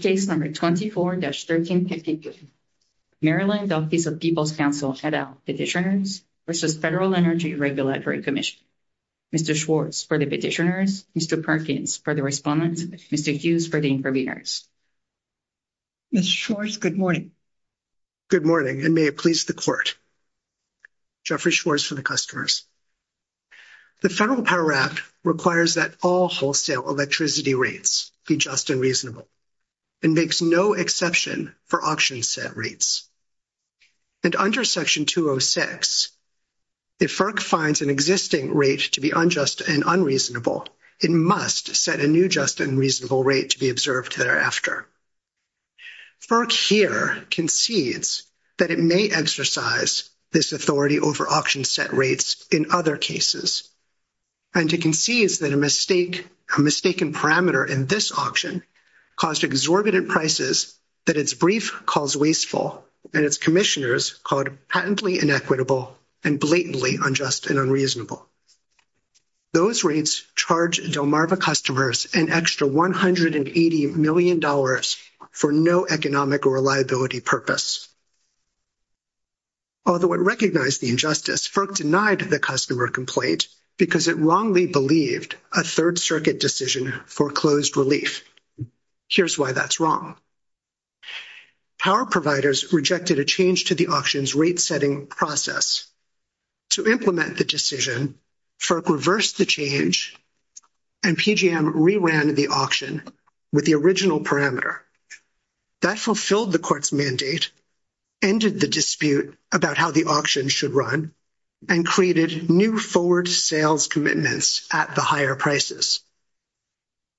Case number 24-1352. Maryland Office of People's Counsel, et al. Petitioners v. Federal Energy Regulatory Commission. Mr. Schwartz for the petitioners, Mr. Perkins for the respondents, Mr. Hughes for the interveners. Ms. Schwartz, good morning. Good morning, and may it please the Court. Jeffrey Schwartz for the customers. The Federal Power Act requires that all wholesale electricity rates be just and reasonable, and makes no exception for auction set rates. And under Section 206, if FERC finds an existing rate to be unjust and unreasonable, it must set a new just and reasonable rate to be observed thereafter. FERC here concedes that it may exercise this authority over auction set rates in other cases. And it concedes that a mistaken parameter in this auction caused exorbitant prices that its brief calls wasteful and its commissioners called patently inequitable and blatantly unjust and unreasonable. Those rates charge Delmarva customers an extra $180 million for no economic or liability purpose. Although it recognized the injustice, FERC denied the customer complaint because it wrongly believed a Third Circuit decision foreclosed relief. Here's why that's wrong. Power providers rejected a change to the auction's rate-setting process. To implement the decision, FERC reversed the change and PGM reran the auction with the original parameter. That fulfilled the Court's mandate, ended the dispute about how the auction should run, and created new forward sales commitments at the higher prices.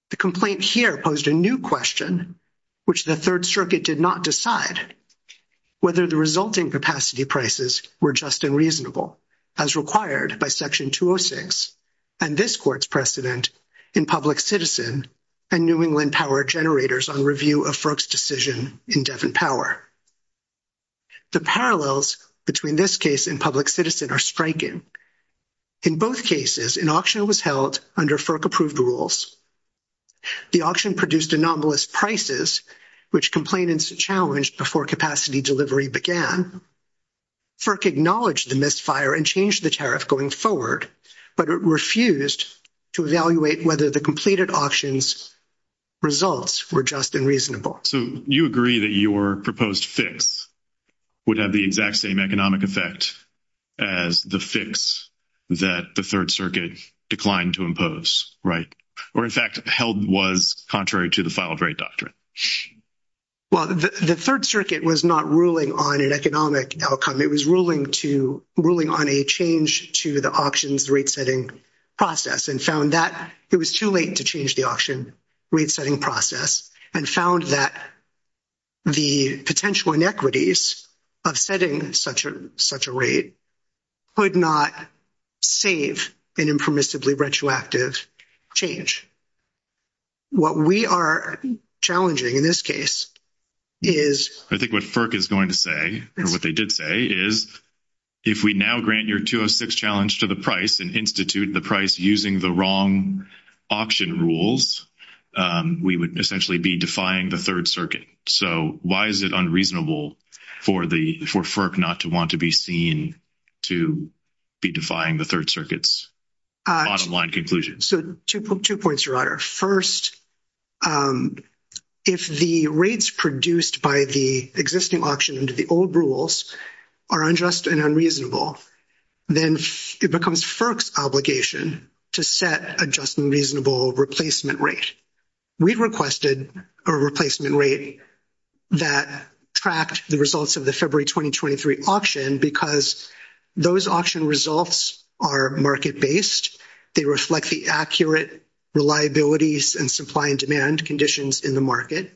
The complaint here posed a new question, which the Third Circuit did not decide, whether the resulting capacity prices were just and reasonable, as required by Section 206 and this Court's precedent in Public Citizen and New England Power Generators on review of FERC's decision in Devon Power. The parallels between this case and Public Citizen are striking. In both cases, an auction was held under FERC-approved rules. The auction produced anomalous prices, which complainants challenged before capacity delivery began. FERC acknowledged the misfire and changed the tariff going forward, but it refused to evaluate whether the completed auction's results were just and reasonable. So, you agree that your proposed fix would have the exact same economic effect as the fix that the Third Circuit declined to impose, right? Or, in fact, held was contrary to the file-of-right doctrine. Well, the Third Circuit was not ruling on an economic outcome. It was ruling on a change to the auction's rate-setting process, and found that it was too late to change the auction rate-setting process, and found that the potential inequities of setting such a rate could not save an impermissibly retroactive change. What we are challenging in this case is... I think what FERC is going to say, or what they did say, is if we now grant your 206 challenge to the price and institute the price using the wrong auction rules, we would essentially be defying the Third Circuit. So, why is it unreasonable for FERC not to want to be seen to be defying the Third Circuit's bottom-line conclusion? So, two points, Your Honor. First, if the rates produced by the existing auction under the old rules are unjust and unreasonable, then it becomes FERC's obligation to set a just and reasonable replacement rate. We requested a replacement rate that tracked the results of the February 2023 auction because those auction results are market-based. They reflect the accurate reliabilities and supply and demand conditions in the market.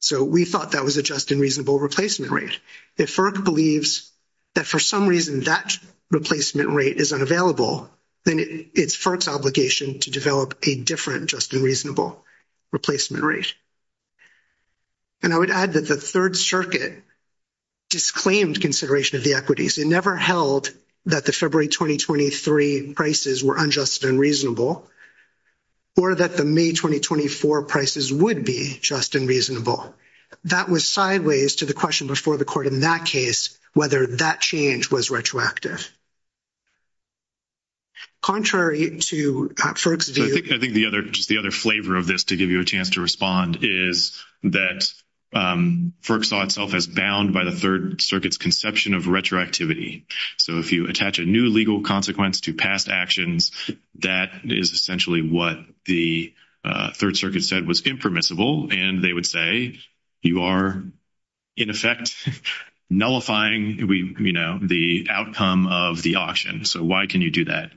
So, we thought that was a just and reasonable replacement rate. If FERC believes that for some reason that replacement rate is unavailable, then it's FERC's obligation to develop a different just and reasonable replacement rate. And I would add that the Third Circuit disclaimed consideration of the equities. It never held that the February 2023 prices were unjust and unreasonable or that the May 2024 prices would be just and reasonable. That was sideways to the question before the Court in that case whether that change was retroactive. Contrary to FERC's view — So, if you attach a new legal consequence to past actions, that is essentially what the Third Circuit said was impermissible. And they would say you are, in effect, nullifying the outcome of the auction. So, why can you do that?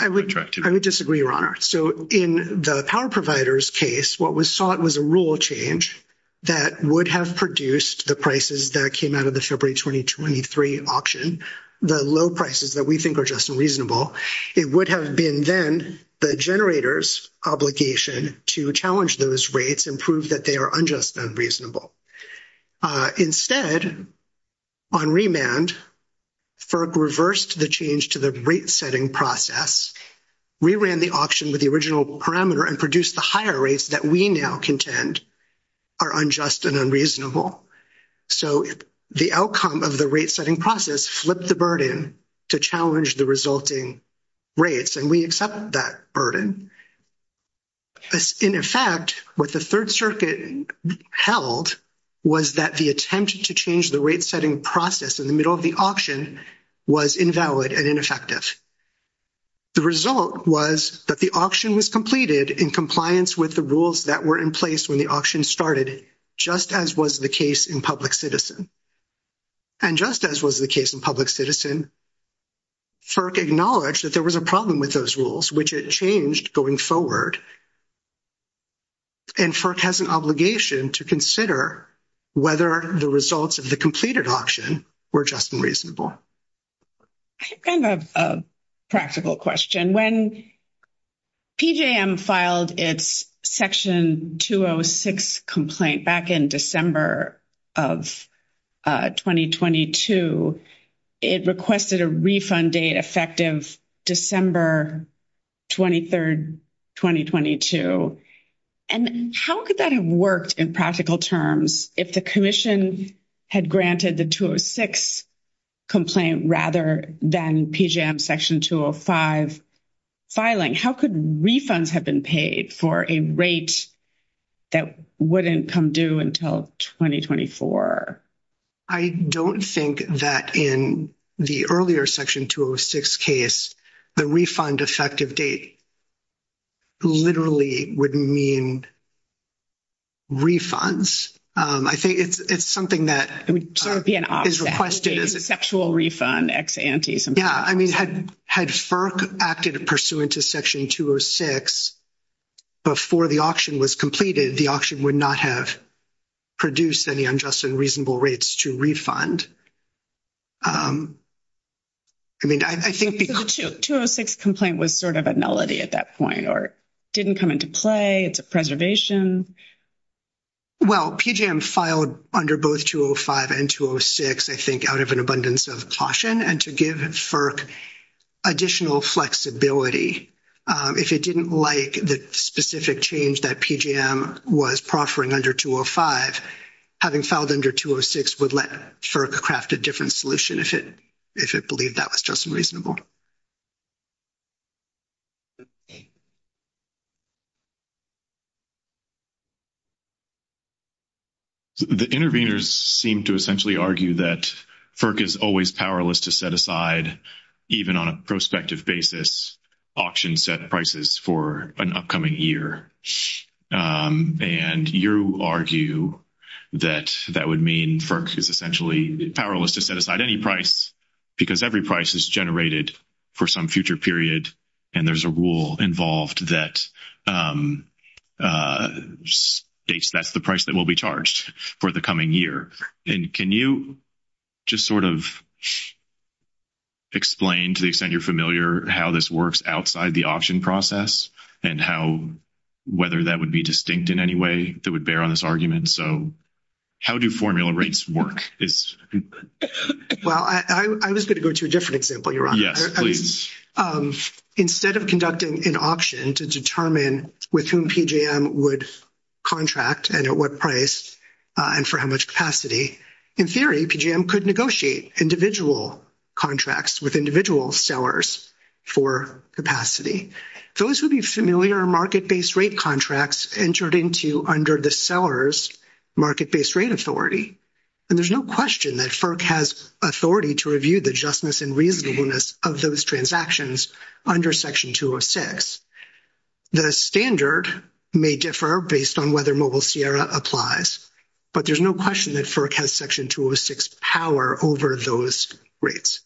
I would disagree, Your Honor. So, in the power provider's case, what was sought was a rule change that would have produced the prices that came out of the February 2023 auction, the low prices that we think are just and reasonable. It would have been then the generator's obligation to challenge those rates and prove that they are unjust and unreasonable. Instead, on remand, FERC reversed the change to the rate-setting process, reran the auction with the original parameter, and produced the higher rates that we now contend are unjust and unreasonable. So, the outcome of the rate-setting process flipped the burden to challenge the resulting rates, and we accept that burden. In effect, what the Third Circuit held was that the attempt to change the rate-setting process in the middle of the auction was invalid and ineffective. The result was that the auction was completed in compliance with the rules that were in place when the auction started, just as was the case in public citizen. And just as was the case in public citizen, FERC acknowledged that there was a problem with those rules, which it changed going forward. And FERC has an obligation to consider whether the results of the completed auction were just and reasonable. Kind of a practical question. When PJM filed its Section 206 complaint back in December of 2022, it requested a refund date effective December 23, 2022. And how could that have worked in practical terms if the Commission had granted the 206 complaint rather than PJM Section 205? Filing, how could refunds have been paid for a rate that wouldn't come due until 2024? I don't think that in the earlier Section 206 case, the refund effective date literally would mean refunds. I think it's something that is requested as a— It would be an offset, a sexual refund, ex ante, something like that. Yeah. I mean, had FERC acted pursuant to Section 206 before the auction was completed, the auction would not have produced any unjust and reasonable rates to refund. I mean, I think— So the 206 complaint was sort of a nullity at that point or didn't come into play. It's a preservation. Well, PJM filed under both 205 and 206, I think, out of an abundance of caution and to give FERC additional flexibility. If it didn't like the specific change that PJM was proffering under 205, having filed under 206 would let FERC craft a different solution if it believed that was just and reasonable. The interveners seem to essentially argue that FERC is always powerless to set aside, even on a prospective basis, auction-set prices for an upcoming year. And you argue that that would mean FERC is essentially powerless to set aside any price because every price is generated for some future period. And there's a rule involved that states that's the price that will be charged for the coming year. And can you just sort of explain, to the extent you're familiar, how this works outside the auction process and how—whether that would be distinct in any way that would bear on this argument? So how do formula rates work? Well, I was going to go to a different example, Your Honor. Yes, please. Instead of conducting an auction to determine with whom PJM would contract and at what price and for how much capacity, in theory, PJM could negotiate individual contracts with individual sellers for capacity. Those would be familiar market-based rate contracts entered into under the seller's market-based rate authority. And there's no question that FERC has authority to review the justness and reasonableness of those transactions under Section 206. The standard may differ based on whether Mobile Sierra applies, but there's no question that FERC has Section 206 power over those rates.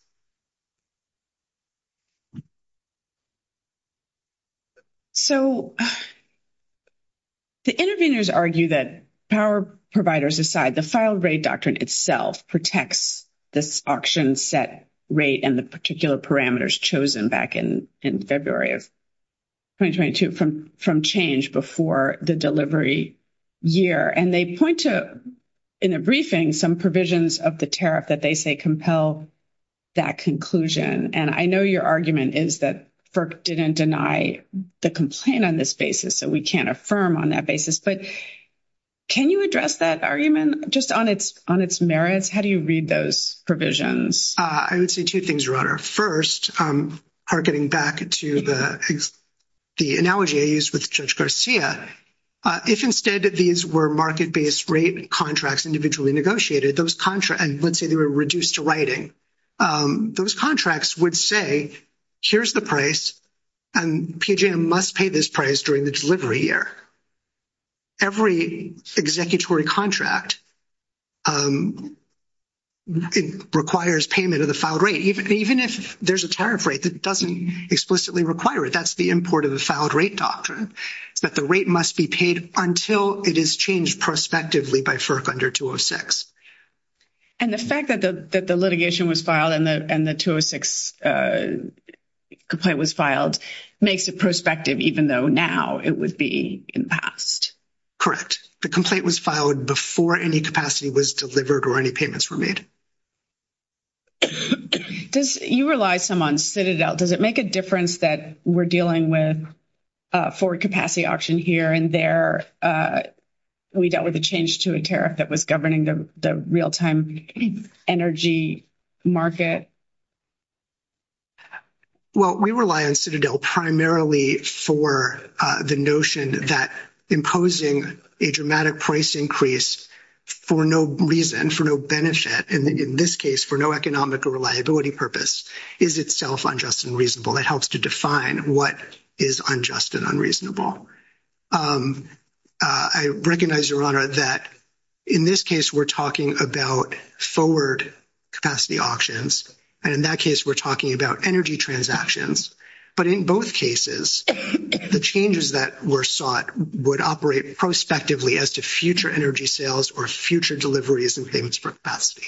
So the interveners argue that power providers aside, the file rate doctrine itself protects this auction set rate and the particular parameters chosen back in February of 2022 from change before the delivery year. And they point to, in a briefing, some provisions of the tariff that they say compel that conclusion. And I know your argument is that FERC didn't deny the complaint on this basis, so we can't affirm on that basis. But can you address that argument just on its merits? How do you read those provisions? I would say two things, Your Honor. First, targeting back to the analogy I used with Judge Garcia, if instead these were market-based rate contracts individually negotiated, and let's say they were reduced to writing, those contracts would say, here's the price, and PJM must pay this price during the delivery year. Every executory contract requires payment of the filed rate, even if there's a tariff rate that doesn't explicitly require it. That's the import of the filed rate doctrine, that the rate must be paid until it is changed prospectively by FERC under 206. And the fact that the litigation was filed and the 206 complaint was filed makes it prospective, even though now it would be in the past. Correct. The complaint was filed before any capacity was delivered or any payments were made. You rely some on Citadel. Does it make a difference that we're dealing with forward capacity auction here and there? We dealt with a change to a tariff that was governing the real-time energy market. Well, we rely on Citadel primarily for the notion that imposing a dramatic price increase for no reason, for no benefit, and in this case for no economic or reliability purpose, is itself unjust and reasonable. It helps to define what is unjust and unreasonable. I recognize, Your Honor, that in this case we're talking about forward capacity auctions, and in that case we're talking about energy transactions. But in both cases, the changes that were sought would operate prospectively as to future energy sales or future deliveries and payments for capacity.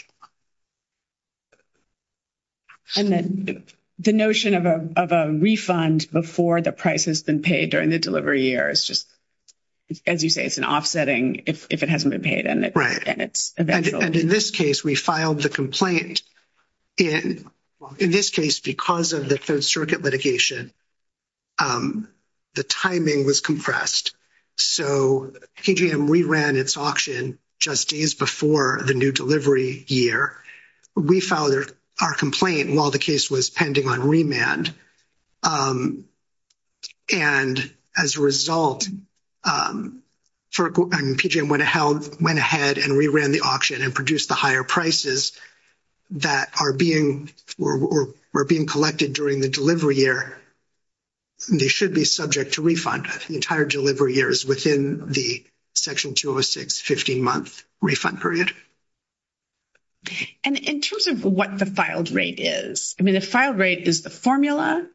And then the notion of a refund before the price has been paid during the delivery year is just, as you say, it's an offsetting if it hasn't been paid. And in this case, we filed the complaint. In this case, because of the Third Circuit litigation, the timing was compressed, so KGM reran its auction just days before the new delivery year. We filed our complaint while the case was pending on remand, and as a result, KGM went ahead and reran the auction and produced the higher prices that are being collected during the delivery year. They should be subject to refund. The entire delivery year is within the Section 206 15-month refund period. And in terms of what the filed rate is, I mean, the filed rate is the formula,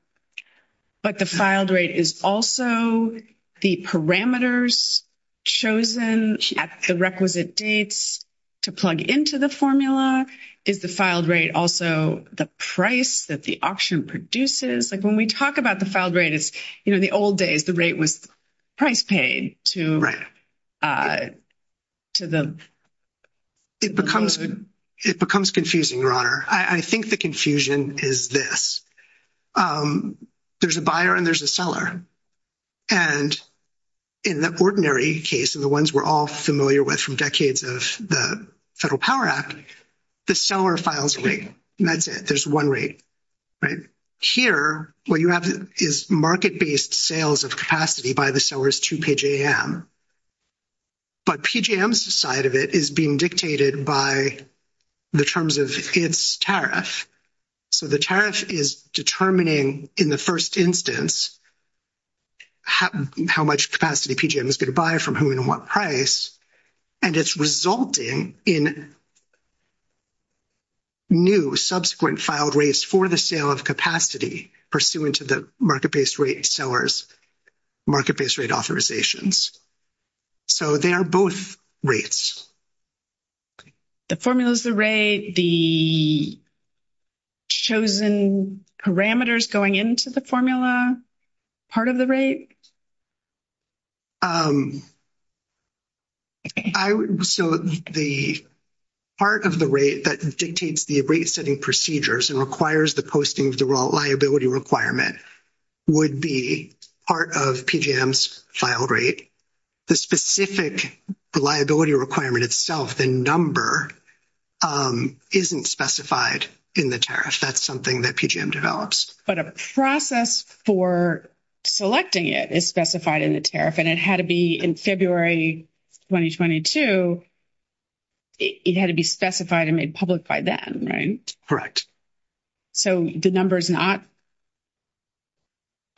but the filed rate is also the parameters chosen at the requisite dates to plug into the formula. Is the filed rate also the price that the auction produces? Like, when we talk about the filed rate, it's, you know, in the old days, the rate was price paid to the... It becomes confusing, Your Honor. I think the confusion is this. There's a buyer and there's a seller, and in the ordinary case and the ones we're all familiar with from decades of the Federal Power Act, the seller files a rate, and that's it. There's one rate, right? Here, what you have is market-based sales of capacity by the sellers to PJM, but PJM's side of it is being dictated by the terms of its tariff, so the tariff is determining, in the first instance, how much capacity PJM is going to buy from whom and what price, and it's resulting in new subsequent filed rates for the sale of capacity pursuant to the market-based rate sellers' market-based rate authorizations. So they are both rates. Okay. The formula's the rate, the chosen parameters going into the formula part of the rate? So the part of the rate that dictates the rate-setting procedures and requires the posting of the liability requirement would be part of PJM's filed rate. The specific liability requirement itself, the number, isn't specified in the tariff. That's something that PJM develops. But a process for selecting it is specified in the tariff, and it had to be in February 2022, it had to be specified and made public by then, right? Correct. So the number is not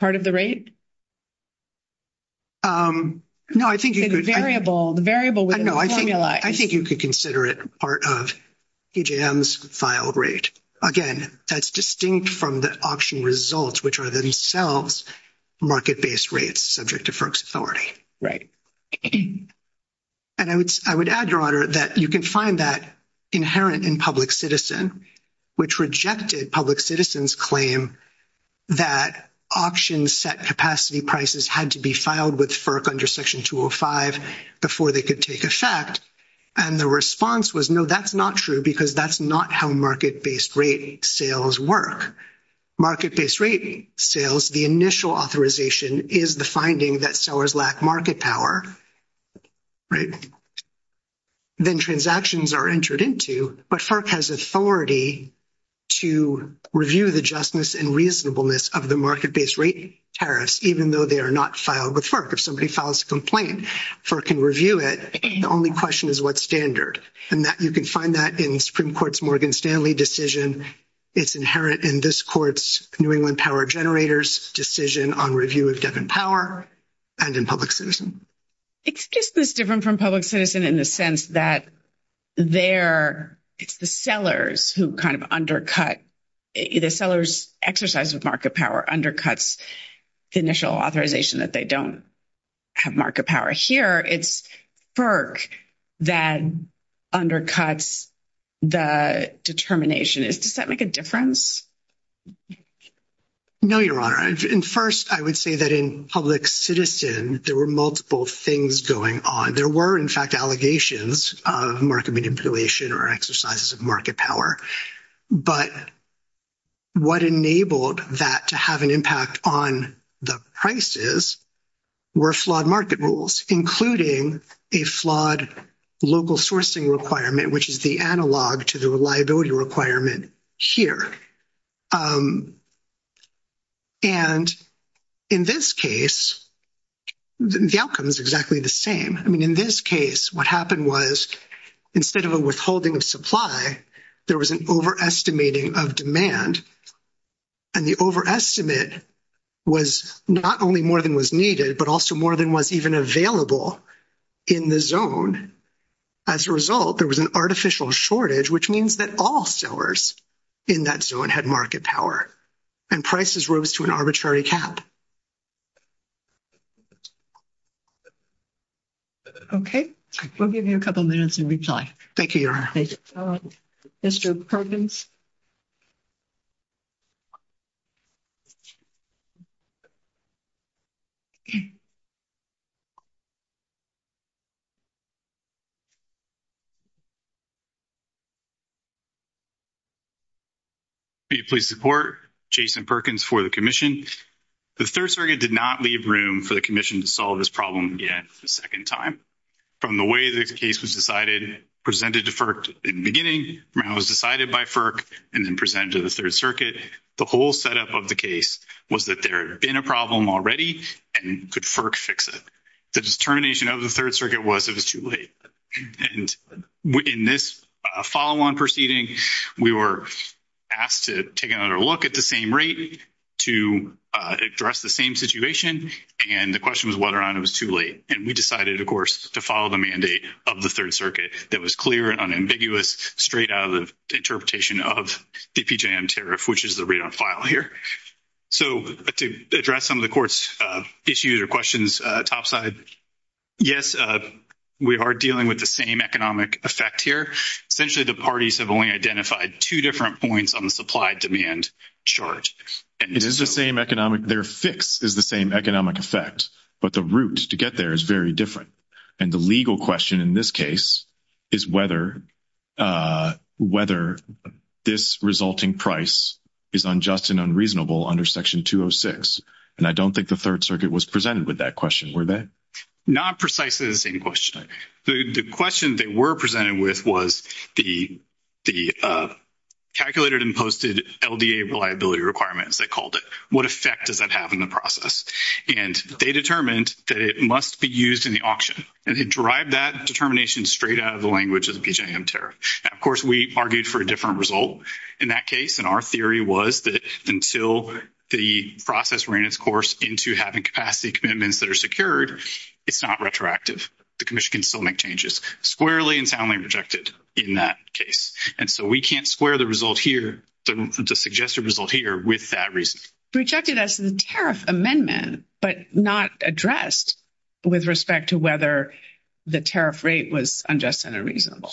part of the rate? No, I think you could— The variable, the variable within the formula— I think you could consider it part of PJM's filed rate. Again, that's distinct from the auction results, which are themselves market-based rates subject to FERC's authority. Right. And I would add, Your Honor, that you can find that inherent in public citizen, which rejected public citizen's claim that auction-set capacity prices had to be filed with FERC under Section 205 before they could take effect, and the response was, no, that's not true because that's not how market-based rate sales work. Market-based rate sales, the initial authorization is the finding that sellers lack market power, right? Then transactions are entered into, but FERC has authority to review the justness and reasonableness of the market-based rate tariffs, even though they are not filed with FERC. If somebody files a complaint, FERC can review it. The only question is what standard? And you can find that in the Supreme Court's Morgan Stanley decision. It's inherent in this Court's New England Power Generators decision on review of debt and power and in public citizen. It's just this different from public citizen in the sense that there, it's the sellers who kind of undercut, the seller's exercise of market power undercuts the initial authorization that they don't have market power. Here, it's FERC that undercuts the determination. Does that make a difference? No, Your Honor. And first, I would say that in public citizen, there were multiple things going on. There were, in fact, allegations of market manipulation or exercises of market power. But what enabled that to have an impact on the prices were flawed market rules, including a flawed local sourcing requirement, which is the analog to the reliability requirement here. And in this case, the outcome is exactly the same. I mean, in this case, what happened was instead of a withholding of supply, there was an overestimating of demand. And the overestimate was not only more than was needed, but also more than was even available in the zone. As a result, there was an artificial shortage, which means that all sellers in that zone had market power, and prices rose to an arbitrary cap. Okay. We'll give you a couple minutes and reply. Thank you, Your Honor. Thank you. Mr. Perkins? Will you please support Jason Perkins for the commission? The Third Circuit did not leave room for the commission to solve this problem yet a second time. From the way the case was decided, presented to FERC in the beginning, when it was decided by FERC and then presented to the Third Circuit, the whole setup of the case was that there had been a problem already and could FERC fix it. The determination of the Third Circuit was it was too late. And in this follow-on proceeding, we were asked to take another look at the same rate to address the same situation, and the question was whether or not it was too late. And we decided, of course, to follow the mandate of the Third Circuit that was clear and unambiguous straight out of the interpretation of the PJM tariff, which is the readout file here. So to address some of the Court's issues or questions topside, yes, we are dealing with the same economic effect here. Essentially, the parties have only identified two different points on the supply-demand charge. It is the same economic, their fix is the same economic effect, but the route to get there is very different. And the legal question in this case is whether this resulting price is unjust and unreasonable under Section 206. And I don't think the Third Circuit was presented with that question, were they? Not precisely the same question. The question they were presented with was the calculated and posted LDA reliability requirements, they called it. What effect does that have in the process? And they determined that it must be used in the auction, and they derived that determination straight out of the language of the PJM tariff. Now, of course, we argued for a different result in that case, and our theory was that until the process ran its course into having capacity commitments that are secured, it's not retroactive. The Commission can still make changes, squarely and soundly rejected in that case. And so we can't square the result here, the suggested result here with that reason. Rejected as the tariff amendment, but not addressed with respect to whether the tariff rate was unjust and unreasonable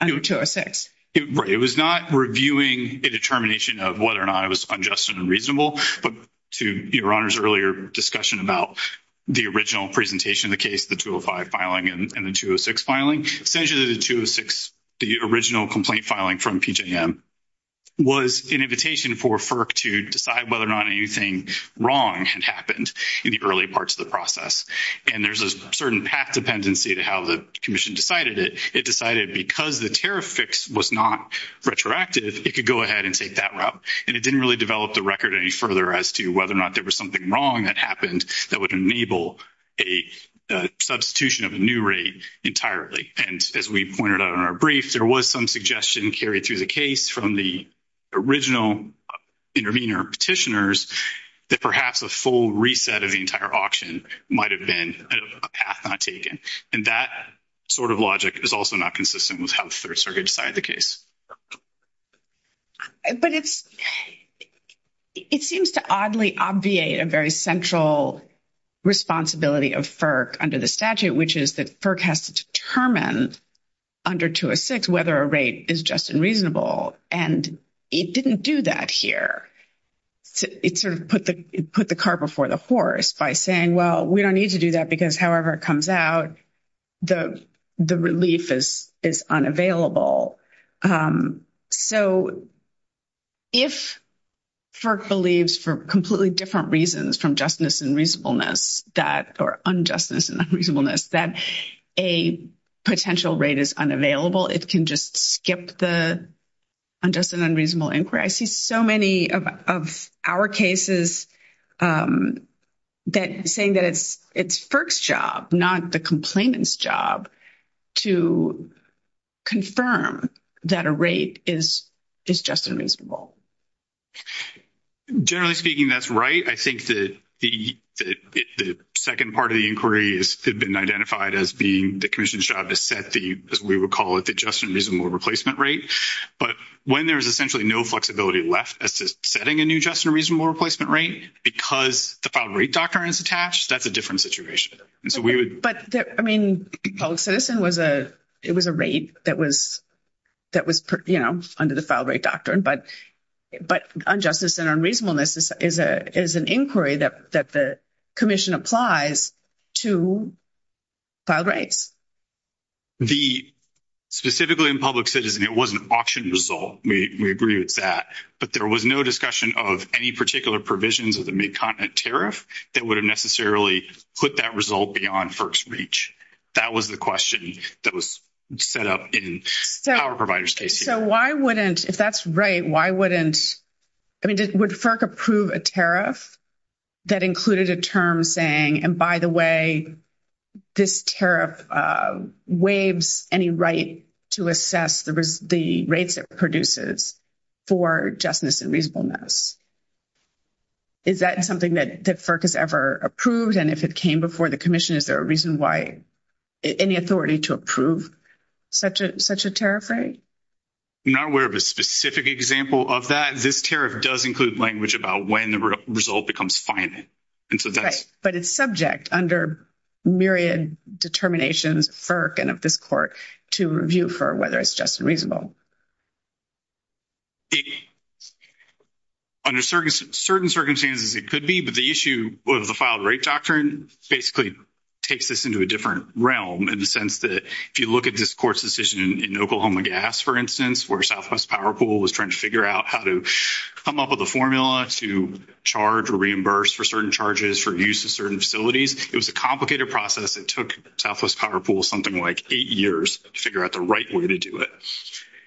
under 206. It was not reviewing a determination of whether or not it was unjust and unreasonable, but to Your Honor's earlier discussion about the original presentation of the case, the 205 filing, and the 206 filing, essentially the 206, the original complaint filing from PJM was an invitation for FERC to decide whether or not anything wrong had happened in the early parts of the process. And there's a certain path dependency to how the Commission decided it. It decided because the tariff fix was not retroactive, it could go ahead and take that route. And it didn't really develop the record any further as to whether or not there was something wrong that happened that would enable a substitution of a new rate entirely. And as we pointed out in our brief, there was some suggestion carried through the case from the original intervener petitioners that perhaps a full reset of the entire auction might have been a path not taken. And that sort of logic is also not consistent with how the Third Circuit decided the case. But it seems to oddly obviate a very central responsibility of FERC under the statute, which is that FERC has to determine under 206 whether a rate is just and reasonable. And it didn't do that here. It sort of put the cart before the horse by saying, well, we don't need to do that because however it comes out, the relief is unavailable. So if FERC believes, for completely different reasons from justness and reasonableness, or unjustness and reasonableness, that a potential rate is unavailable, it can just skip the unjust and unreasonable inquiry. I see so many of our cases saying that it's FERC's job, not the complainant's job, to confirm that a rate is just and reasonable. Generally speaking, that's right. I think that the second part of the inquiry has been identified as being the commission's job to set the, as we would call it, the just and reasonable replacement rate. But when there is essentially no flexibility left as to setting a new just and reasonable replacement rate because the filed rate doctrine is attached, that's a different situation. But, I mean, public citizen was a, it was a rate that was, you know, under the filed rate doctrine. But unjustness and unreasonableness is an inquiry that the commission applies to filed rates. The, specifically in public citizen, it was an auction result. We agree with that. But there was no discussion of any particular provisions of the mid-continent tariff that would have necessarily put that result beyond FERC's reach. That was the question that was set up in our provider's case. So why wouldn't, if that's right, why wouldn't, I mean, would FERC approve a tariff that included a term saying, and by the way, this tariff waives any right to assess the rates it produces for justness and reasonableness? Is that something that FERC has ever approved? And if it came before the commission, is there a reason why, any authority to approve such a tariff rate? I'm not aware of a specific example of that. This tariff does include language about when the result becomes finite. And so that's. But it's subject under myriad determinations, FERC and of this court, to review for whether it's just and reasonable. Under certain circumstances, it could be. But the issue of the filed rate doctrine basically takes this into a different realm in the sense that if you look at this court's decision in Oklahoma Gas, for instance, where Southwest Power Pool was trying to figure out how to come up with a formula to charge or reimburse for certain charges for use of certain facilities, it was a complicated process. It took Southwest Power Pool something like eight years to figure out the right way to do it.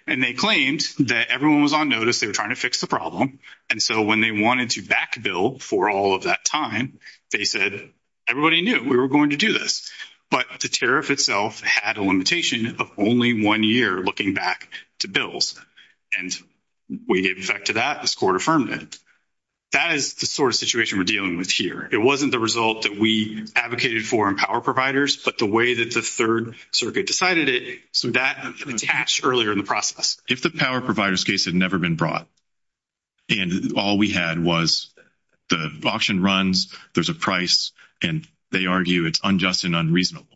And they claimed that everyone was on notice. They were trying to fix the problem. And so when they wanted to back bill for all of that time, they said, everybody knew we were going to do this. But the tariff itself had a limitation of only one year looking back to bills. And we gave effect to that. This court affirmed it. That is the sort of situation we're dealing with here. It wasn't the result that we advocated for in power providers, but the way that the Third Circuit decided it. So that attached earlier in the process. If the power provider's case had never been brought and all we had was the auction runs, there's a price, and they argue it's unjust and unreasonable.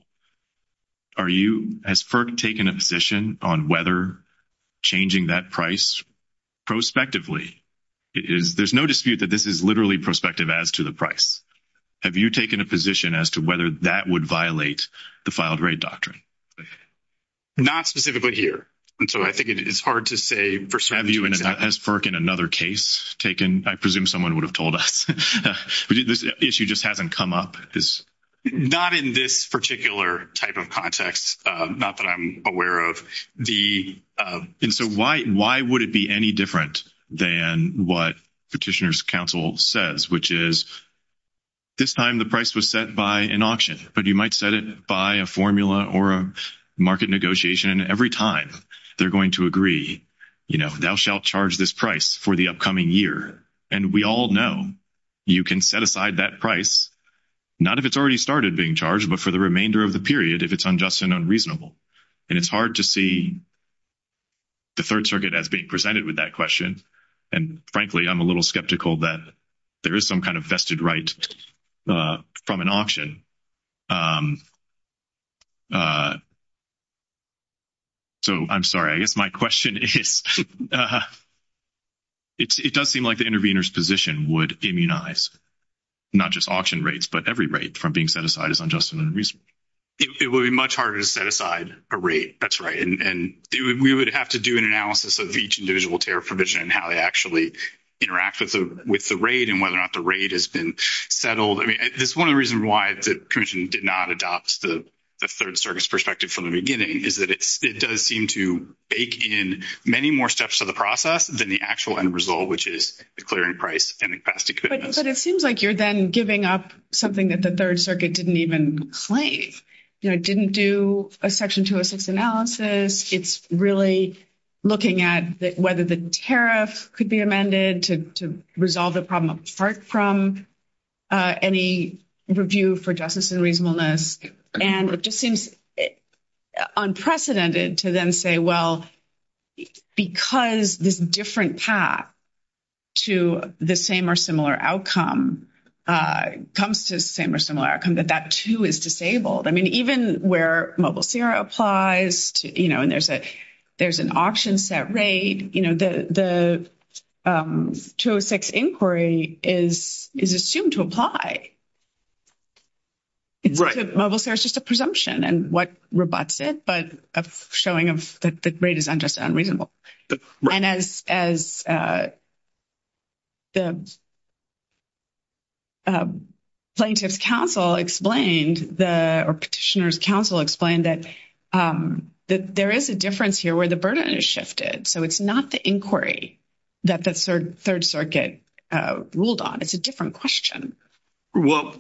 Has FERC taken a position on whether changing that price prospectively, there's no dispute that this is literally prospective as to the price. Have you taken a position as to whether that would violate the filed rate doctrine? Not specifically here. And so I think it's hard to say for certain. Have you, has FERC in another case taken, I presume someone would have told us. This issue just hasn't come up. Not in this particular type of context. Not that I'm aware of. And so why would it be any different than what Petitioner's counsel says, which is, this time the price was set by an auction, but you might set it by a formula or a market negotiation. And every time they're going to agree, you know, thou shalt charge this price for the upcoming year. And we all know you can set aside that price, not if it's already started being charged, but for the remainder of the period if it's unjust and unreasonable. And it's hard to see the Third Circuit as being presented with that question. And frankly, I'm a little skeptical that there is some kind of vested right from an auction. So I'm sorry, I guess my question is, it does seem like the intervener's position would immunize not just auction rates, but every rate from being set aside as unjust and unreasonable. It would be much harder to set aside a rate. That's right. And we would have to do an analysis of each individual tariff provision and how they actually interact with the rate and whether or not the rate has been settled. I mean, this is one of the reasons why the Commission did not adopt the Third Circuit's perspective from the beginning, is that it does seem to bake in many more steps to the process than the actual end result, which is the clearing price and the capacity commitments. But it seems like you're then giving up something that the Third Circuit didn't even claim. You know, it didn't do a Section 206 analysis. It's really looking at whether the tariff could be amended to resolve the problem apart from any review for justice and reasonableness. And it just seems unprecedented to then say, well, because this different path to the same or similar outcome comes to the same or similar outcome, that that too is disabled. I mean, even where Mobile Sierra applies to, you know, and there's an option set rate, you know, the 206 inquiry is assumed to apply. Mobile Sierra is just a presumption and what rebutts it, but a showing of that the rate is unjust and unreasonable. And as the Plaintiff's Council explained, or Petitioner's Council explained, that there is a difference here where the burden is shifted. So it's not the inquiry that the Third Circuit ruled on. It's a different question. Well,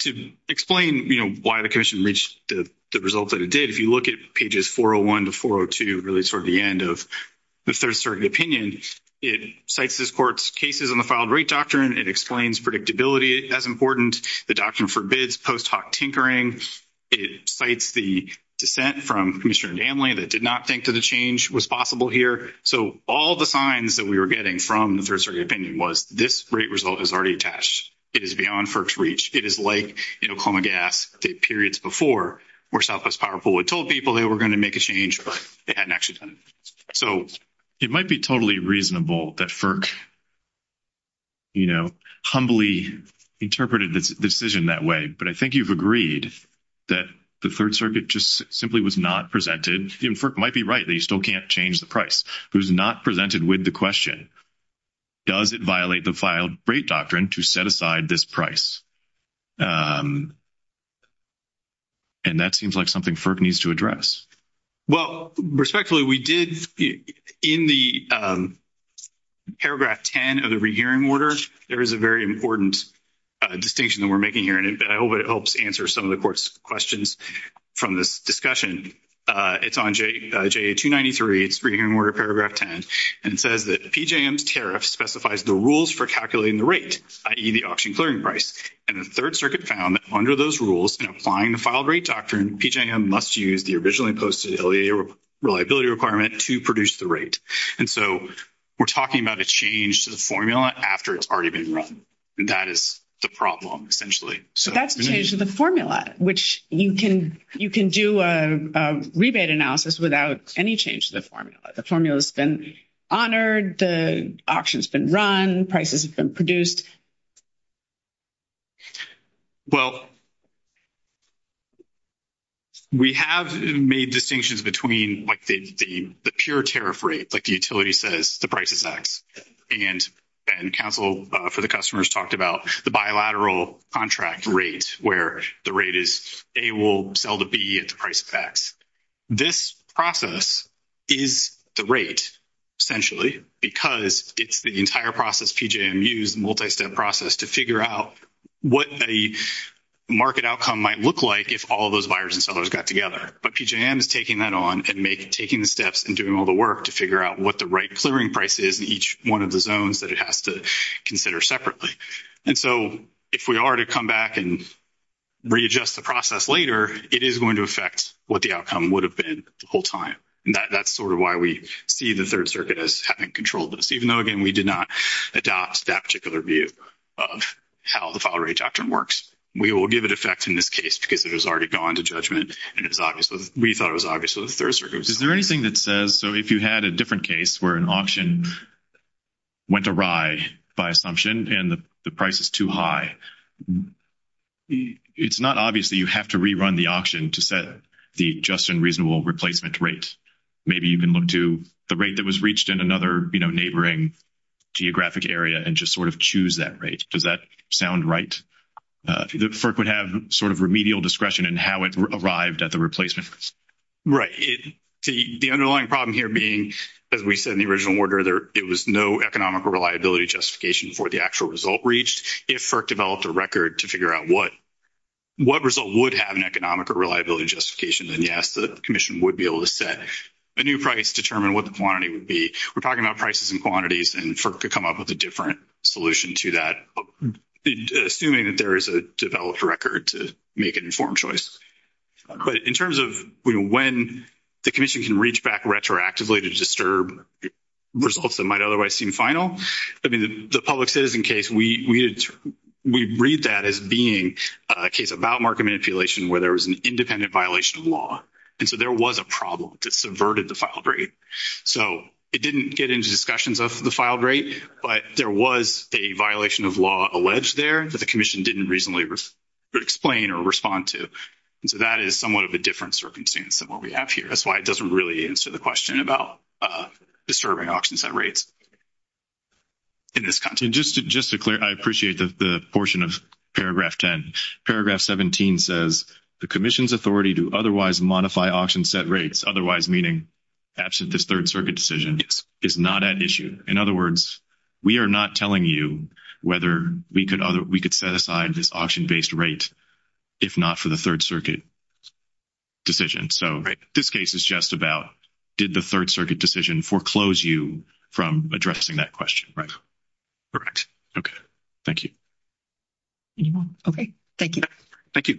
to explain, you know, why the commission reached the result that it did, if you look at pages 401 to 402, really sort of the end of the Third Circuit opinion, it cites this court's cases on the filed rate doctrine. It explains predictability as important. The doctrine forbids post hoc tinkering. It cites the dissent from Commissioner Danley that did not think the change was possible here. So all the signs that we were getting from the Third Circuit opinion was this rate result is already attached. It is beyond FERC's reach. It is like, you know, Coma Gas did periods before where Southwest Power Pool had told people they were going to make a change, but they hadn't actually done it. So it might be totally reasonable that FERC, you know, humbly interpreted the decision that way. But I think you've agreed that the Third Circuit just simply was not presented. FERC might be right that you still can't change the price. It was not presented with the question, does it violate the filed rate doctrine to set aside this price? And that seems like something FERC needs to address. Well, respectfully, we did in the paragraph 10 of the rehearing order. There is a very important distinction that we're making here, and I hope it helps answer some of the Court's questions from this discussion. It's on JA-293. It's Rehearing Order, paragraph 10. And it says that PJM's tariff specifies the rules for calculating the rate, i.e., the auction clearing price. And the Third Circuit found that under those rules, in applying the filed rate doctrine, PJM must use the originally posted reliability requirement to produce the rate. And so we're talking about a change to the formula after it's already been run. And that is the problem, essentially. But that's the change to the formula, which you can do a rebate analysis without any change to the formula. The formula's been honored. The auction's been run. Prices have been produced. Well, we have made distinctions between, like, the pure tariff rate. Like, the utility says the price is X. And counsel for the customers talked about the bilateral contract rate, where the rate is A will sell to B at the price of X. This process is the rate, essentially, because it's the entire process PJM used, multi-step process, to figure out what a market outcome might look like if all those buyers and sellers got together. But PJM is taking that on and taking the steps and doing all the work to figure out what the right clearing price is in each one of the zones that it has to consider separately. And so if we are to come back and readjust the process later, it is going to affect what the outcome would have been the whole time. And that's sort of why we see the Third Adopt that particular view of how the file rate doctrine works. We will give it effect in this case because it has already gone to judgment. And we thought it was obvious with the Third Circuit. Is there anything that says, so if you had a different case where an auction went awry by assumption and the price is too high, it's not obvious that you have to rerun the auction to set the just and reasonable replacement rate. Maybe you can look to the rate that was reached in another neighboring geographic area and just sort of choose that rate. Does that sound right? FERC would have sort of remedial discretion in how it arrived at the replacement. Right. The underlying problem here being, as we said in the original order, there was no economic or reliability justification for the actual result reached. If FERC developed a record to figure out what result would have an economic or reliability justification, then yes, the Commission would be able to set a new price, determine what the quantity would be. We're talking about prices and quantities, and FERC could come up with a different solution to that, assuming that there is a developed record to make an informed choice. But in terms of when the Commission can reach back retroactively to disturb results that might otherwise seem final, I mean, the public citizen case, we read that as being a case about market manipulation where there was an independent violation of law. And so there was a problem that subverted the filed rate. So it didn't get into discussions of the filed rate, but there was a violation of law alleged there that the Commission didn't reasonably explain or respond to. And so that is somewhat of a different circumstance than what we have here. That's why it doesn't really answer the question about disturbing auction set rates in this context. And just to clear, I appreciate the portion of paragraph 10. Paragraph 17 says, the Commission's authority to otherwise modify auction set rates, otherwise meaning absent this Third Circuit decision, is not at issue. In other words, we are not telling you whether we could set aside this auction-based rate if not for the Third Circuit decision. So this case is just about did the Third Circuit decision foreclose you from addressing that question? Right. Correct. Okay. Thank you. Any more? Okay. Thank you. Thank you.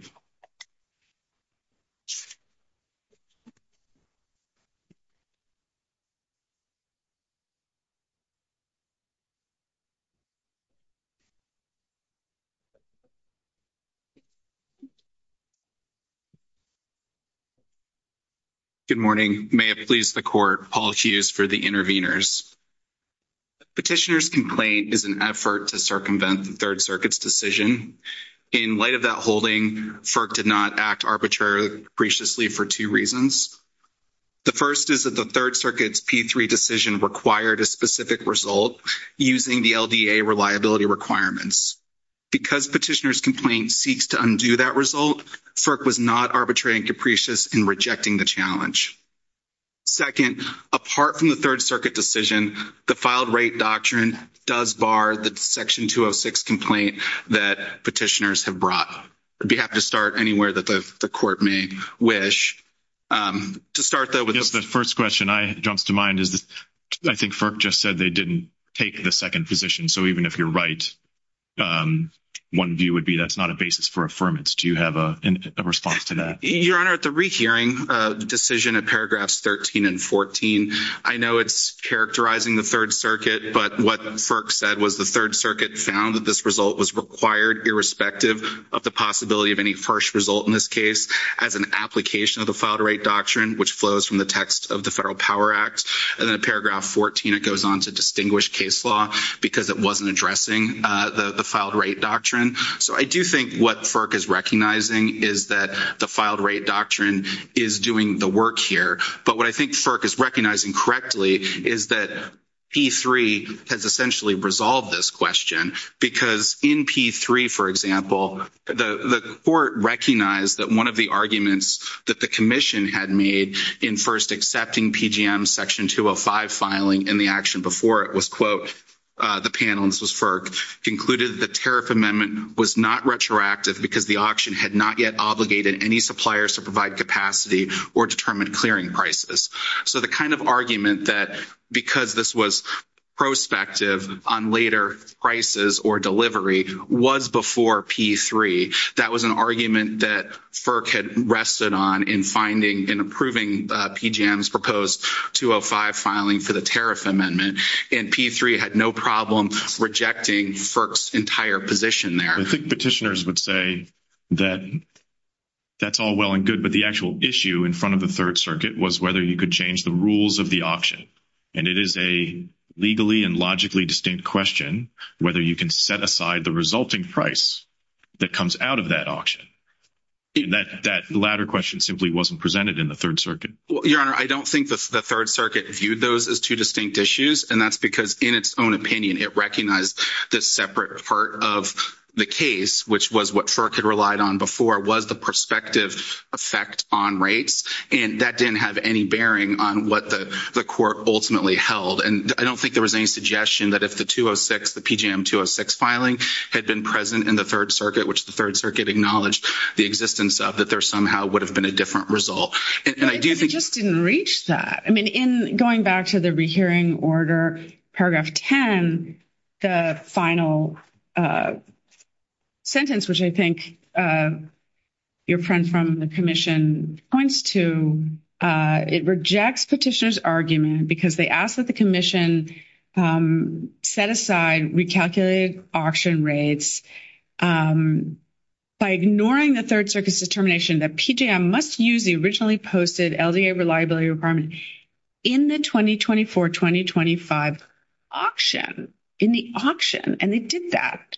Good morning. May it please the Court, Paul Hughes for the interveners. Petitioner's complaint is an effort to circumvent the Third Circuit's decision. In light of that holding, FERC did not act arbitrarily capriciously for two reasons. The first is that the Third Circuit's P3 decision required a specific result using the LDA reliability requirements. Because Petitioner's complaint seeks to undo that result, FERC was not arbitrary and capricious in rejecting the challenge. Second, apart from the Third Circuit decision, the filed rate doctrine does bar the Section 206 complaint that Petitioner's have brought. We'd be happy to start anywhere that the Court may wish. To start, though, with the first question that jumps to mind is that I think FERC just said they didn't take the second position. So even if you're right, one view would be that's not a basis for affirmance. Do you have a response to that? Your Honor, at the rehearing decision at paragraphs 13 and 14, I know it's characterizing the Third Circuit, but what FERC said was the Circuit found that this result was required irrespective of the possibility of any harsh result in this case as an application of the filed rate doctrine, which flows from the text of the Federal Power Act. And then at paragraph 14, it goes on to distinguish case law because it wasn't addressing the filed rate doctrine. So I do think what FERC is recognizing is that the filed rate doctrine is doing the work here. But what I think FERC is recognizing correctly is that P3 has essentially resolved this question because in P3, for example, the Court recognized that one of the arguments that the Commission had made in first accepting PGM Section 205 filing and the action before it was, quote, the panel, and this was FERC, concluded the tariff amendment was not retroactive because the auction had not yet obligated any to provide capacity or determine clearing prices. So the kind of argument that because this was prospective on later prices or delivery was before P3, that was an argument that FERC had rested on in finding and approving PGM's proposed 205 filing for the tariff amendment. And P3 had no problem rejecting FERC's entire position there. I think petitioners would say that that's all well and good, but the actual issue in front of the Third Circuit was whether you could change the rules of the auction. And it is a legally and logically distinct question whether you can set aside the resulting price that comes out of that auction. That latter question simply wasn't presented in the Third Circuit. Your Honor, I don't think the Third Circuit viewed those as two distinct issues, and that's because in its own opinion, it recognized the separate part of the case, which was what FERC had relied on before, was the prospective effect on rates. And that didn't have any bearing on what the court ultimately held. And I don't think there was any suggestion that if the 206, the PGM-206 filing had been present in the Third Circuit, which the Third Circuit acknowledged the existence of, that there somehow would have been a different result. And I do think— And I do think that in paragraph 10, the final sentence, which I think your friend from the Commission points to, it rejects petitioners' argument because they ask that the Commission set aside recalculated auction rates by ignoring the Third Circuit's determination that PGM must use the posted LDA reliability requirement in the 2024-2025 auction, in the auction. And they did that,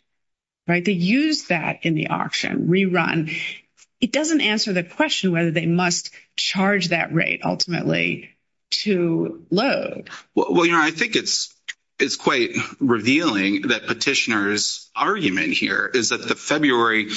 right? They used that in the auction, rerun. It doesn't answer the question whether they must charge that rate ultimately to load. Well, your Honor, I think it's quite revealing that petitioners' argument here is that the February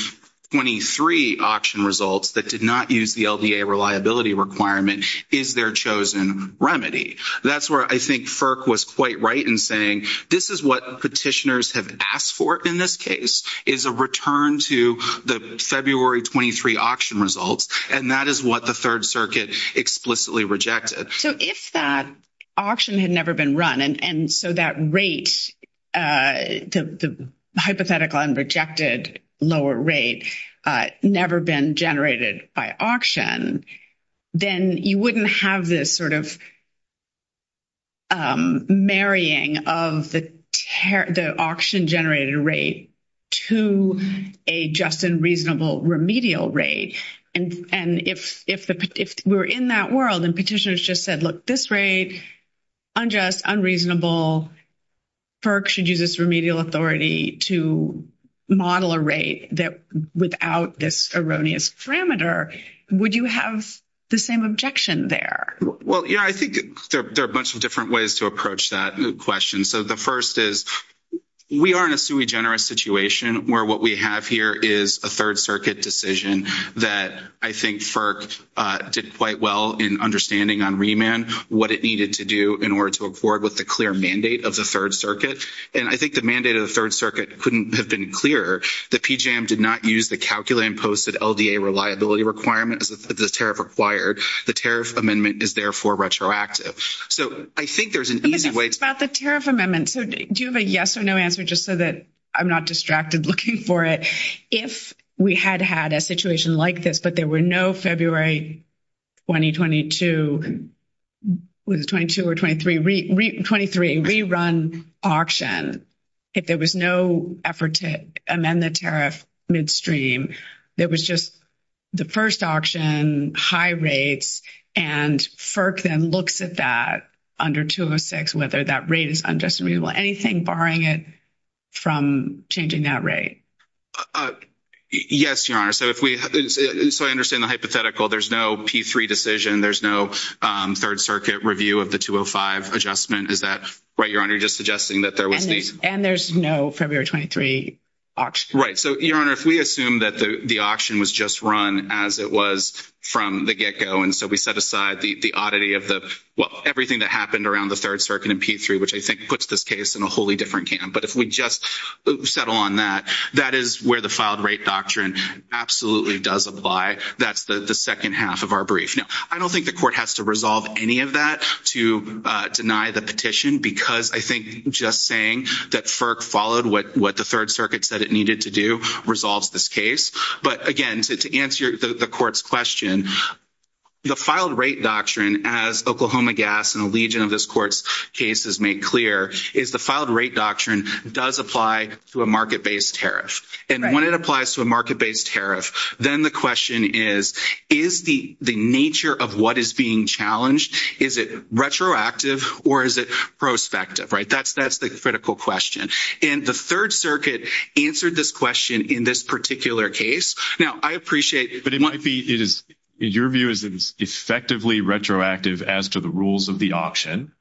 23 auction results that did not use the LDA reliability requirement is their chosen remedy. That's where I think FERC was quite right in saying, this is what petitioners have asked for in this case, is a return to the February 23 auction results. And that is what the Third Circuit explicitly rejected. So if that auction had never been run, and so that rate, the hypothetical and rejected lower rate, never been generated by auction, then you wouldn't have this sort of marrying of the auction-generated rate to a just and reasonable remedial rate. And if we're in that world and petitioners just said, look, this rate, unjust, unreasonable, FERC should use this remedial authority to model a rate without this erroneous parameter, would you have the same objection there? Well, yeah, I think there are a bunch of different ways to approach that question. So the first is, we are in a sui generis situation where what we have here is a Third Circuit decision that I think FERC did quite well in understanding on remand what it needed to do in order to accord with the clear mandate of the Third Circuit. And I think the mandate of the Third Circuit couldn't have been clearer. The PJM did not use the calculated and posted LDA reliability requirement as the tariff required. The tariff amendment is therefore retroactive. So I think there's an easy way- It's about the tariff amendment. So do you have a yes or no answer just so that I'm not distracted looking for it? If we had had a situation like this, but there were no February 2022, was it 22 or 23, re-run auction, if there was no effort to amend the tariff midstream, there was just the first auction, high rates, and FERC then looks at that under 206, whether that rate is unjust, unreasonable, anything barring it from changing that rate. Yes, Your Honor. So I understand the hypothetical. There's no P3 decision. There's no Third Circuit review of the 205 adjustment. Is that right, Your Honor? You're just suggesting that there was- And there's no February 23 auction. Right. So, Your Honor, if we assume that the auction was just run as it was from the get-go, and so we set aside the oddity of the, well, everything that happened around the Third Circuit and P3, which I think puts this case in a wholly different camp. But if we just settle on that, that is where the filed rate doctrine absolutely does apply. That's the second half of our brief. Now, I don't think the court has to resolve any of that to deny the petition because I think just saying that FERC followed what the Third Circuit said it needed to do resolves this case. But again, to answer the court's question, the filed rate doctrine, as Oklahoma Gas and a legion of this court's cases make clear, is the filed rate doctrine does apply to a market-based tariff. And when it applies to a market-based tariff, then the question is, is the nature of what is being challenged, is it retroactive or is it prospective, right? That's the critical question. And the Third Circuit answered this question in this particular case. Now, I appreciate- But it might be, your view is effectively retroactive as to the rules of the auction.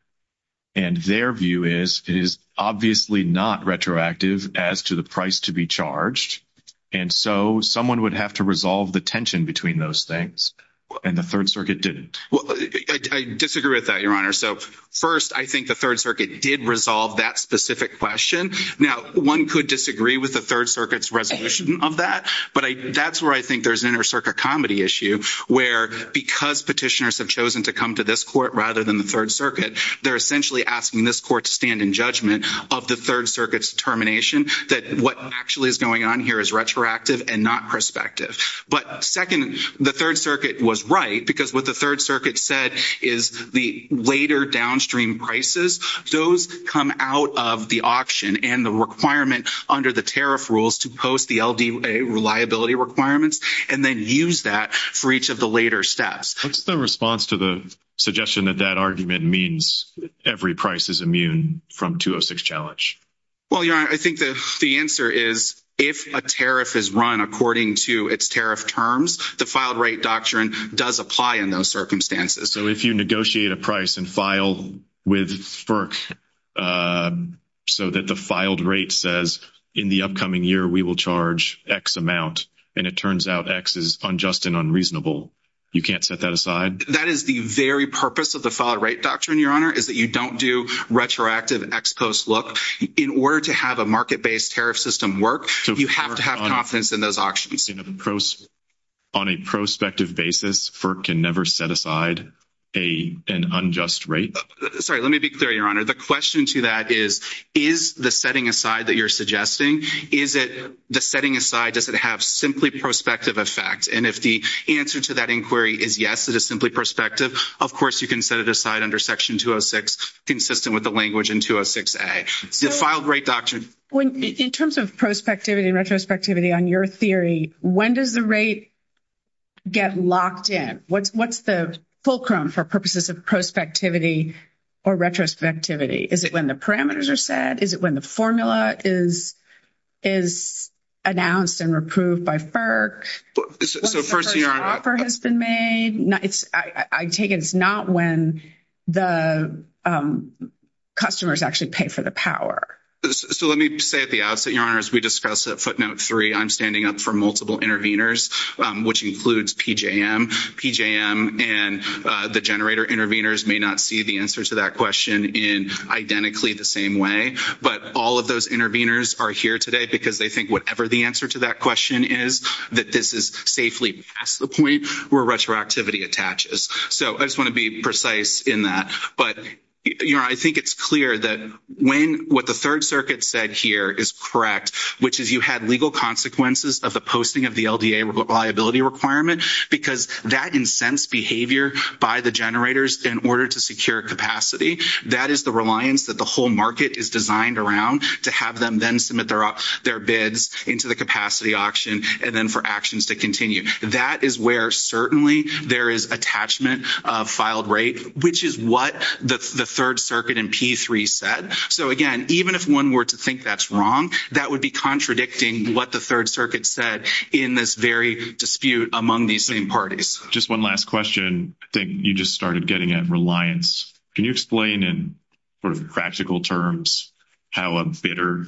And their view is it is obviously not retroactive as to the price to be charged. And so someone would have to resolve the tension between those things. And the Third Circuit didn't. Well, I disagree with that, your honor. So first, I think the Third Circuit did resolve that specific question. Now, one could disagree with the Third Circuit's resolution of that. But that's where I think there's an inter-circuit comedy issue, where because petitioners have chosen to come to this court rather than the Third Circuit, they're essentially asking this court to stand in judgment of the Third Circuit's determination that what actually is going on here is retroactive and not prospective. But second, the Third Circuit was right, because what the Third Circuit said is the later downstream prices, those come out of the auction and the requirement under the tariff rules to post the that for each of the later steps. What's the response to the suggestion that that argument means every price is immune from 206 challenge? Well, your honor, I think the answer is if a tariff is run according to its tariff terms, the filed rate doctrine does apply in those circumstances. So if you negotiate a price and file with FERC so that the filed rate says, in the upcoming year we will charge X amount, and it turns out X is unjust and unreasonable, you can't set that aside? That is the very purpose of the filed rate doctrine, your honor, is that you don't do retroactive X post look. In order to have a market-based tariff system work, you have to have confidence in those auctions. On a prospective basis, FERC can never set aside an unjust rate? Sorry, let me be clear, your honor. The question to that is, is the setting aside that you're suggesting, is it the setting aside, does it have simply prospective effect? And if the answer to that inquiry is yes, it is simply prospective, of course, you can set it aside under section 206, consistent with the language in 206A. In terms of prospectivity and retrospectivity on your theory, when does the rate get locked in? What's the fulcrum for purposes of prospectivity or retrospectivity? Is it when the parameters are set? Is it when the formula is announced and approved by FERC? When the first offer has been made? I take it it's not when the customers actually pay for the power. So let me say at the outset, your honor, as we discussed at footnote three, I'm standing up for multiple intervenors, which includes PJM. PJM and the generator intervenors may not see the answer to that question in identically the same way, but all of those intervenors are here today because they think whatever the answer to that question is, that this is safely past the point where retroactivity attaches. So I just want to be precise in that. But, your honor, I think it's clear that when what the Third Circuit said here is correct, which is you had legal consequences of the posting of the LDA reliability requirement, because that incensed behavior by the generators in order to secure capacity, that is the reliance that the whole market is designed around to have them then submit their bids into the capacity auction and then for actions to continue. That is where certainly there is attachment of filed rate, which is what the Third Circuit and P3 said. So again, even if one were to think that's wrong, that would be contradicting what the Third Circuit said in this very dispute among these same parties. Just one last question. I think you just started getting at reliance. Can you explain in sort of practical terms how a bidder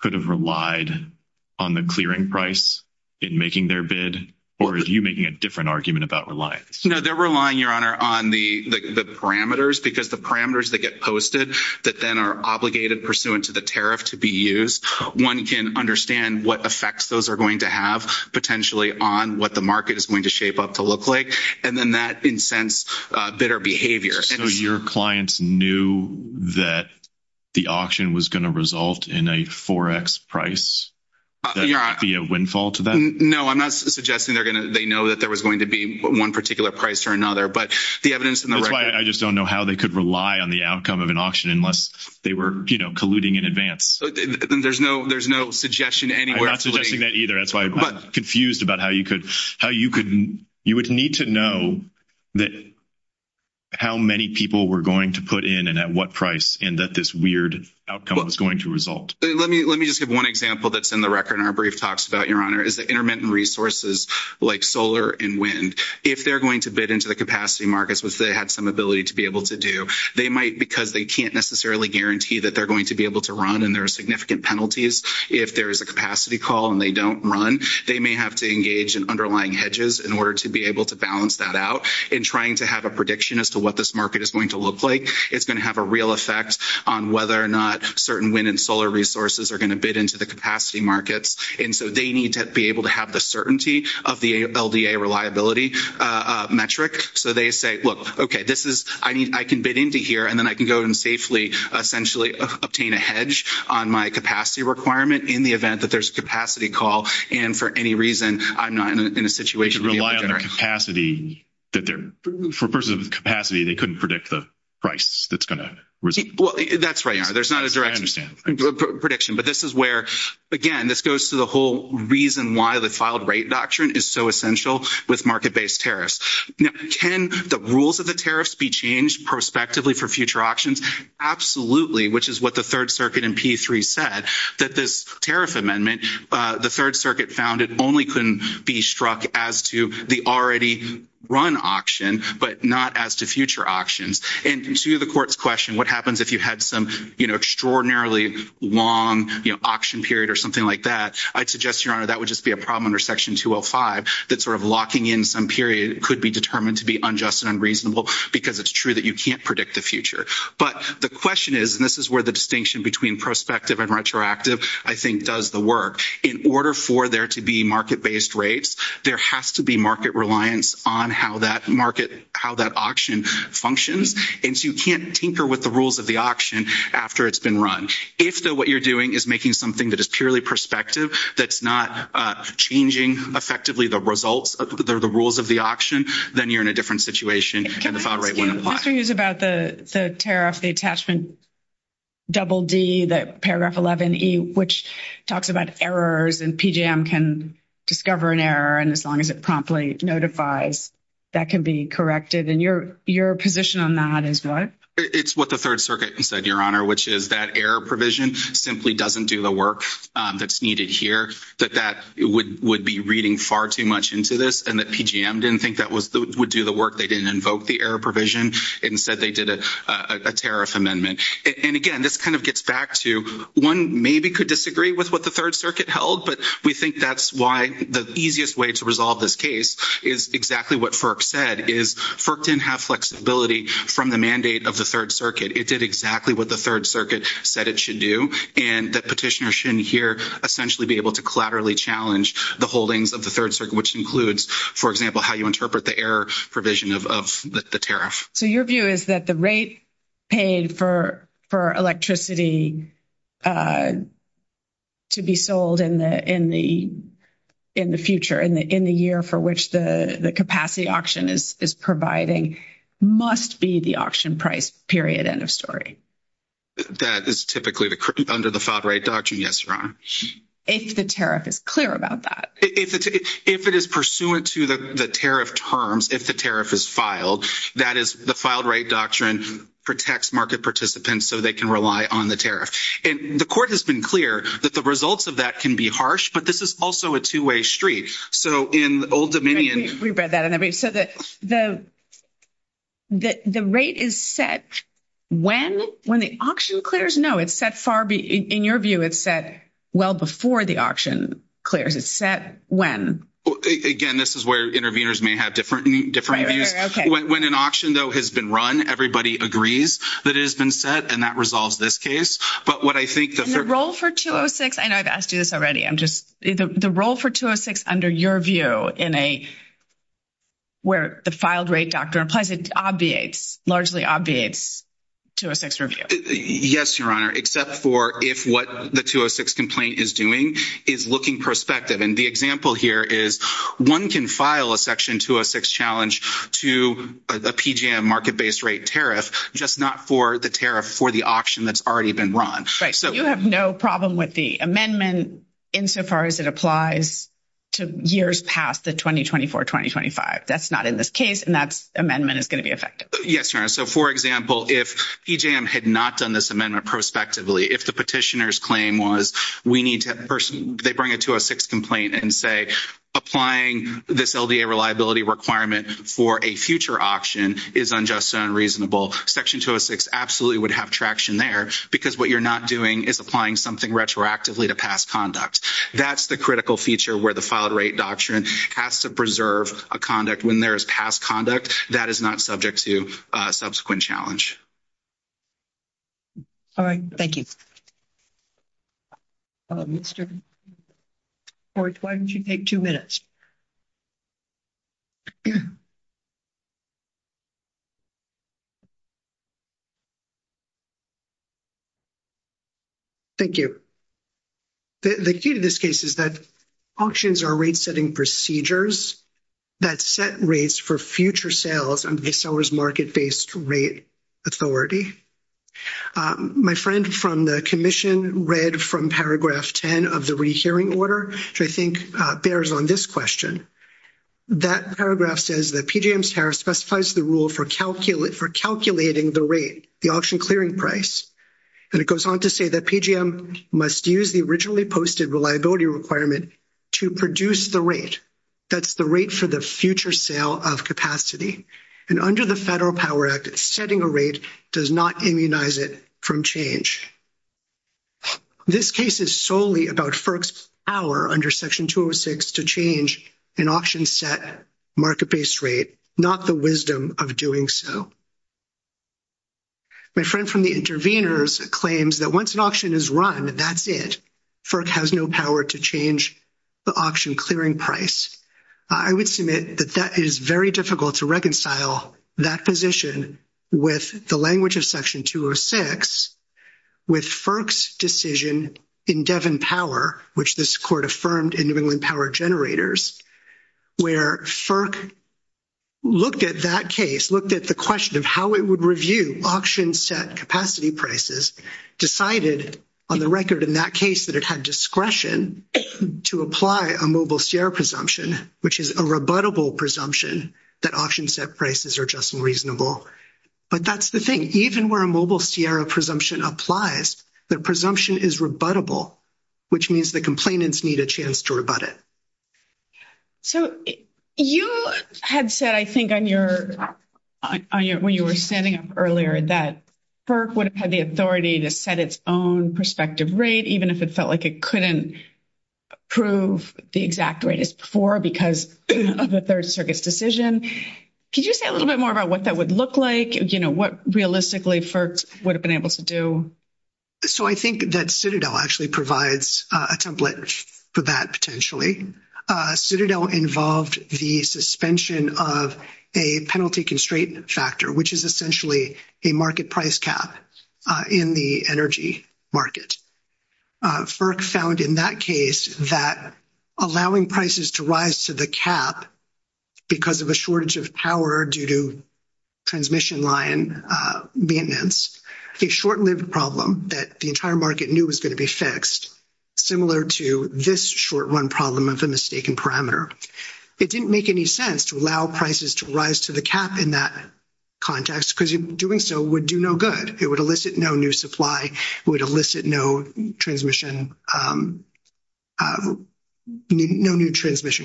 could have relied on the clearing price in making their bid? Or are you making a different argument about reliance? No, they're relying, your honor, on the parameters because the parameters that get posted that then are obligated pursuant to the tariff to be used, one can understand what effects those are going to have potentially on what the market is going to shape up to look like. And then that incents bidder behavior. So your clients knew that the auction was going to result in a 4X price? Would that be a windfall to them? No, I'm not suggesting they know that there was going to be one particular price or another, but the evidence in the record... That's why I just don't know how they could rely on the outcome of an auction unless they were, you know, colluding in advance. There's no suggestion anywhere... I'm not suggesting that either. That's why I'm confused about how you could... You would need to know that how many people were going to put in and at what price and that this weird outcome was going to result. Let me just give one example that's in the record in our brief talks about, your honor, is the intermittent resources like solar and wind. If they're going to bid into the capacity markets, which they had some ability to be able to do, they might, because they can't necessarily guarantee that they're going to be able to run and there are significant penalties if there is a capacity call and they don't run, they may have to engage in underlying hedges in order to be able to balance that out. In trying to have a prediction as to what this market is going to look like, it's going to have a real effect on whether or not certain wind and solar resources are going to bid into the capacity markets. And so they need to be able to have the certainty of the LDA reliability metric. So they say, look, okay, this is... I can bid into here and then I can go and safely essentially obtain a hedge on my capacity requirement in the event that there's a capacity call. And for any reason, I'm not in a situation to be able to... They can rely on the capacity that they're... For persons with capacity, they couldn't predict the price that's going to result. Well, that's right, your honor. There's not a direct prediction, but this is where, again, this goes to the whole reason why the filed rate doctrine is so essential with market-based tariffs. Now, can the rules of the tariffs be changed prospectively for future auctions? Absolutely, which is what the third circuit in P3 said, that this tariff amendment, the third circuit found it only can be struck as to the already run auction, but not as to future auctions. And to the court's question, what happens if you had some extraordinarily long auction period or something like that? I'd suggest, your honor, that would just be a problem under section 205, that sort of locking in some period could be determined to be unjust and unreasonable because it's true that you can't predict the future. But the question is, and this is where the distinction between prospective and retroactive, I think, does the work. In order for there to be market-based rates, there has to be market reliance on how that auction functions. And so you can't tinker with the rules of the auction after it's been run. If what you're doing is making something that is purely prospective, that's not changing effectively the results, the rules of the auction, then you're in a different situation and the file rate wouldn't apply. Mr. Hughes, about the tariff, the attachment double D, the paragraph 11E, which talks about errors, and PJM can discover an error, and as long as it promptly notifies, that can be corrected. And your position on that is what? It's what the third circuit said, your honor, which is that error provision simply doesn't do the work that's needed here, that that would be reading far too much into this and that PJM didn't think that would do the work. They didn't invoke the error provision. Instead, they did a tariff amendment. And again, this kind of gets back to one maybe could disagree with what the third circuit held, but we think that's why the easiest way to resolve this case is exactly what FERC said, is FERC didn't have flexibility from the mandate of the third circuit. It did exactly what the third circuit said it should do, and the petitioner shouldn't here essentially be able to collaterally challenge the holdings of the third circuit, which includes, for example, how you interpret the error provision of the tariff. So your view is that the rate paid for electricity to be sold in the future, in the year for which the capacity auction is providing, must be the auction price, period, end of story? That is typically under the filed right doctrine, yes, your honor. If the tariff is clear about that. If it is pursuant to the tariff terms, if the tariff is filed, that is the filed right doctrine protects market participants so they can rely on the tariff. And the court has been clear that the results of that can be harsh, but this is also a two-way street. So in Old Dominion. We read that. So the rate is set when the auction clears? No, it's set far, in your view, it's set well before the auction clears. It's set when? Again, this is where interveners may have different views. When an auction, though, has been run, everybody agrees that it has been set, and that resolves this case. And the role for 206, I know I've asked you this already, the role for 206 under your view, where the filed right doctrine applies, it obviates, largely obviates 206 review? Yes, your honor, except for if what the 206 complaint is doing is looking prospective. And the example here is one can file a section 206 challenge to a PGM market-based rate tariff, just not for the tariff for the auction that's already been run. Right. So you have no problem with the amendment insofar as it applies to years past the 2024-2025. That's not in this case, and that's amendment is going to be effective. Yes, your honor. So for example, if PGM had not done this amendment prospectively, if the petitioner's claim was we need to person, they bring a 206 complaint and say applying this LDA reliability requirement for a future auction is unjust and unreasonable, section 206 absolutely would have traction there because what you're not doing is applying something retroactively to past conduct. That's the critical feature where the filed rate doctrine has to preserve a conduct when there is past conduct that is not subject to subsequent challenge. All right. Thank you. Mr. Horwich, why don't you take two minutes? Thank you. The key to this case is that auctions are rate-setting procedures that set rates for future sales under the seller's market-based rate authority. My friend from the commission read from paragraph 10 of the rehearing order, which I think bears on this question. That paragraph says that PGM's tariff specifies the rule for calculating the rate, the auction clearing price, and it goes on to say that PGM must use the originally posted reliability requirement to produce the rate. That's the rate for the future sale of capacity, and under the Federal Power Act, setting a rate does not immunize it from change. This case is solely about FERC's power under section 206 to change an auction-set market-based rate, not the wisdom of doing so. My friend from the intervenors claims that once an auction is run, that's it. FERC has no power to change the auction clearing price. I would submit that that is very difficult to reconcile that position with the language of section 206 with FERC's decision in Devon Power, which this court affirmed in New England Power Generators, where FERC looked at that case, looked at the question of how it would review auction-set capacity prices, decided on the case that it had discretion to apply a Mobile Sierra presumption, which is a rebuttable presumption that auction-set prices are just and reasonable. But that's the thing. Even where a Mobile Sierra presumption applies, the presumption is rebuttable, which means the complainants need a chance to rebut it. So you had said, I think, when you were standing up earlier, that FERC would have had the authority to set its own prospective rate, even if it felt like it couldn't prove the exact rate as before because of the Third Circuit's decision. Could you say a little bit more about what that would look like? You know, what realistically FERC would have been able to do? So I think that Citadel actually provides a template for that, potentially. Citadel involved the suspension of a penalty-constraint factor, which is essentially a market price cap in the energy market. FERC found in that case that allowing prices to rise to the cap because of a shortage of power due to transmission line maintenance, a short-lived problem that the entire market knew was going to be fixed, similar to this short-run problem of a mistaken parameter. It didn't make any sense to allow prices to rise to the cap in that context because doing so would do no good. It would elicit no new supply. It would elicit no transmission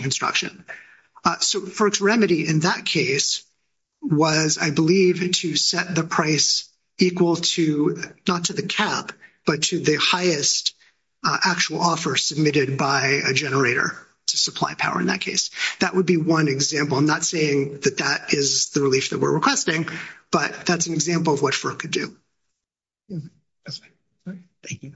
construction. So FERC's remedy in that case was, I believe, to set the price equal to, not to the cap, but to the highest actual offer submitted by a generator to supply power in that case. That would be one example. I'm not saying that that is the relief that we're requesting, but that's an example of what FERC could do. Thank you.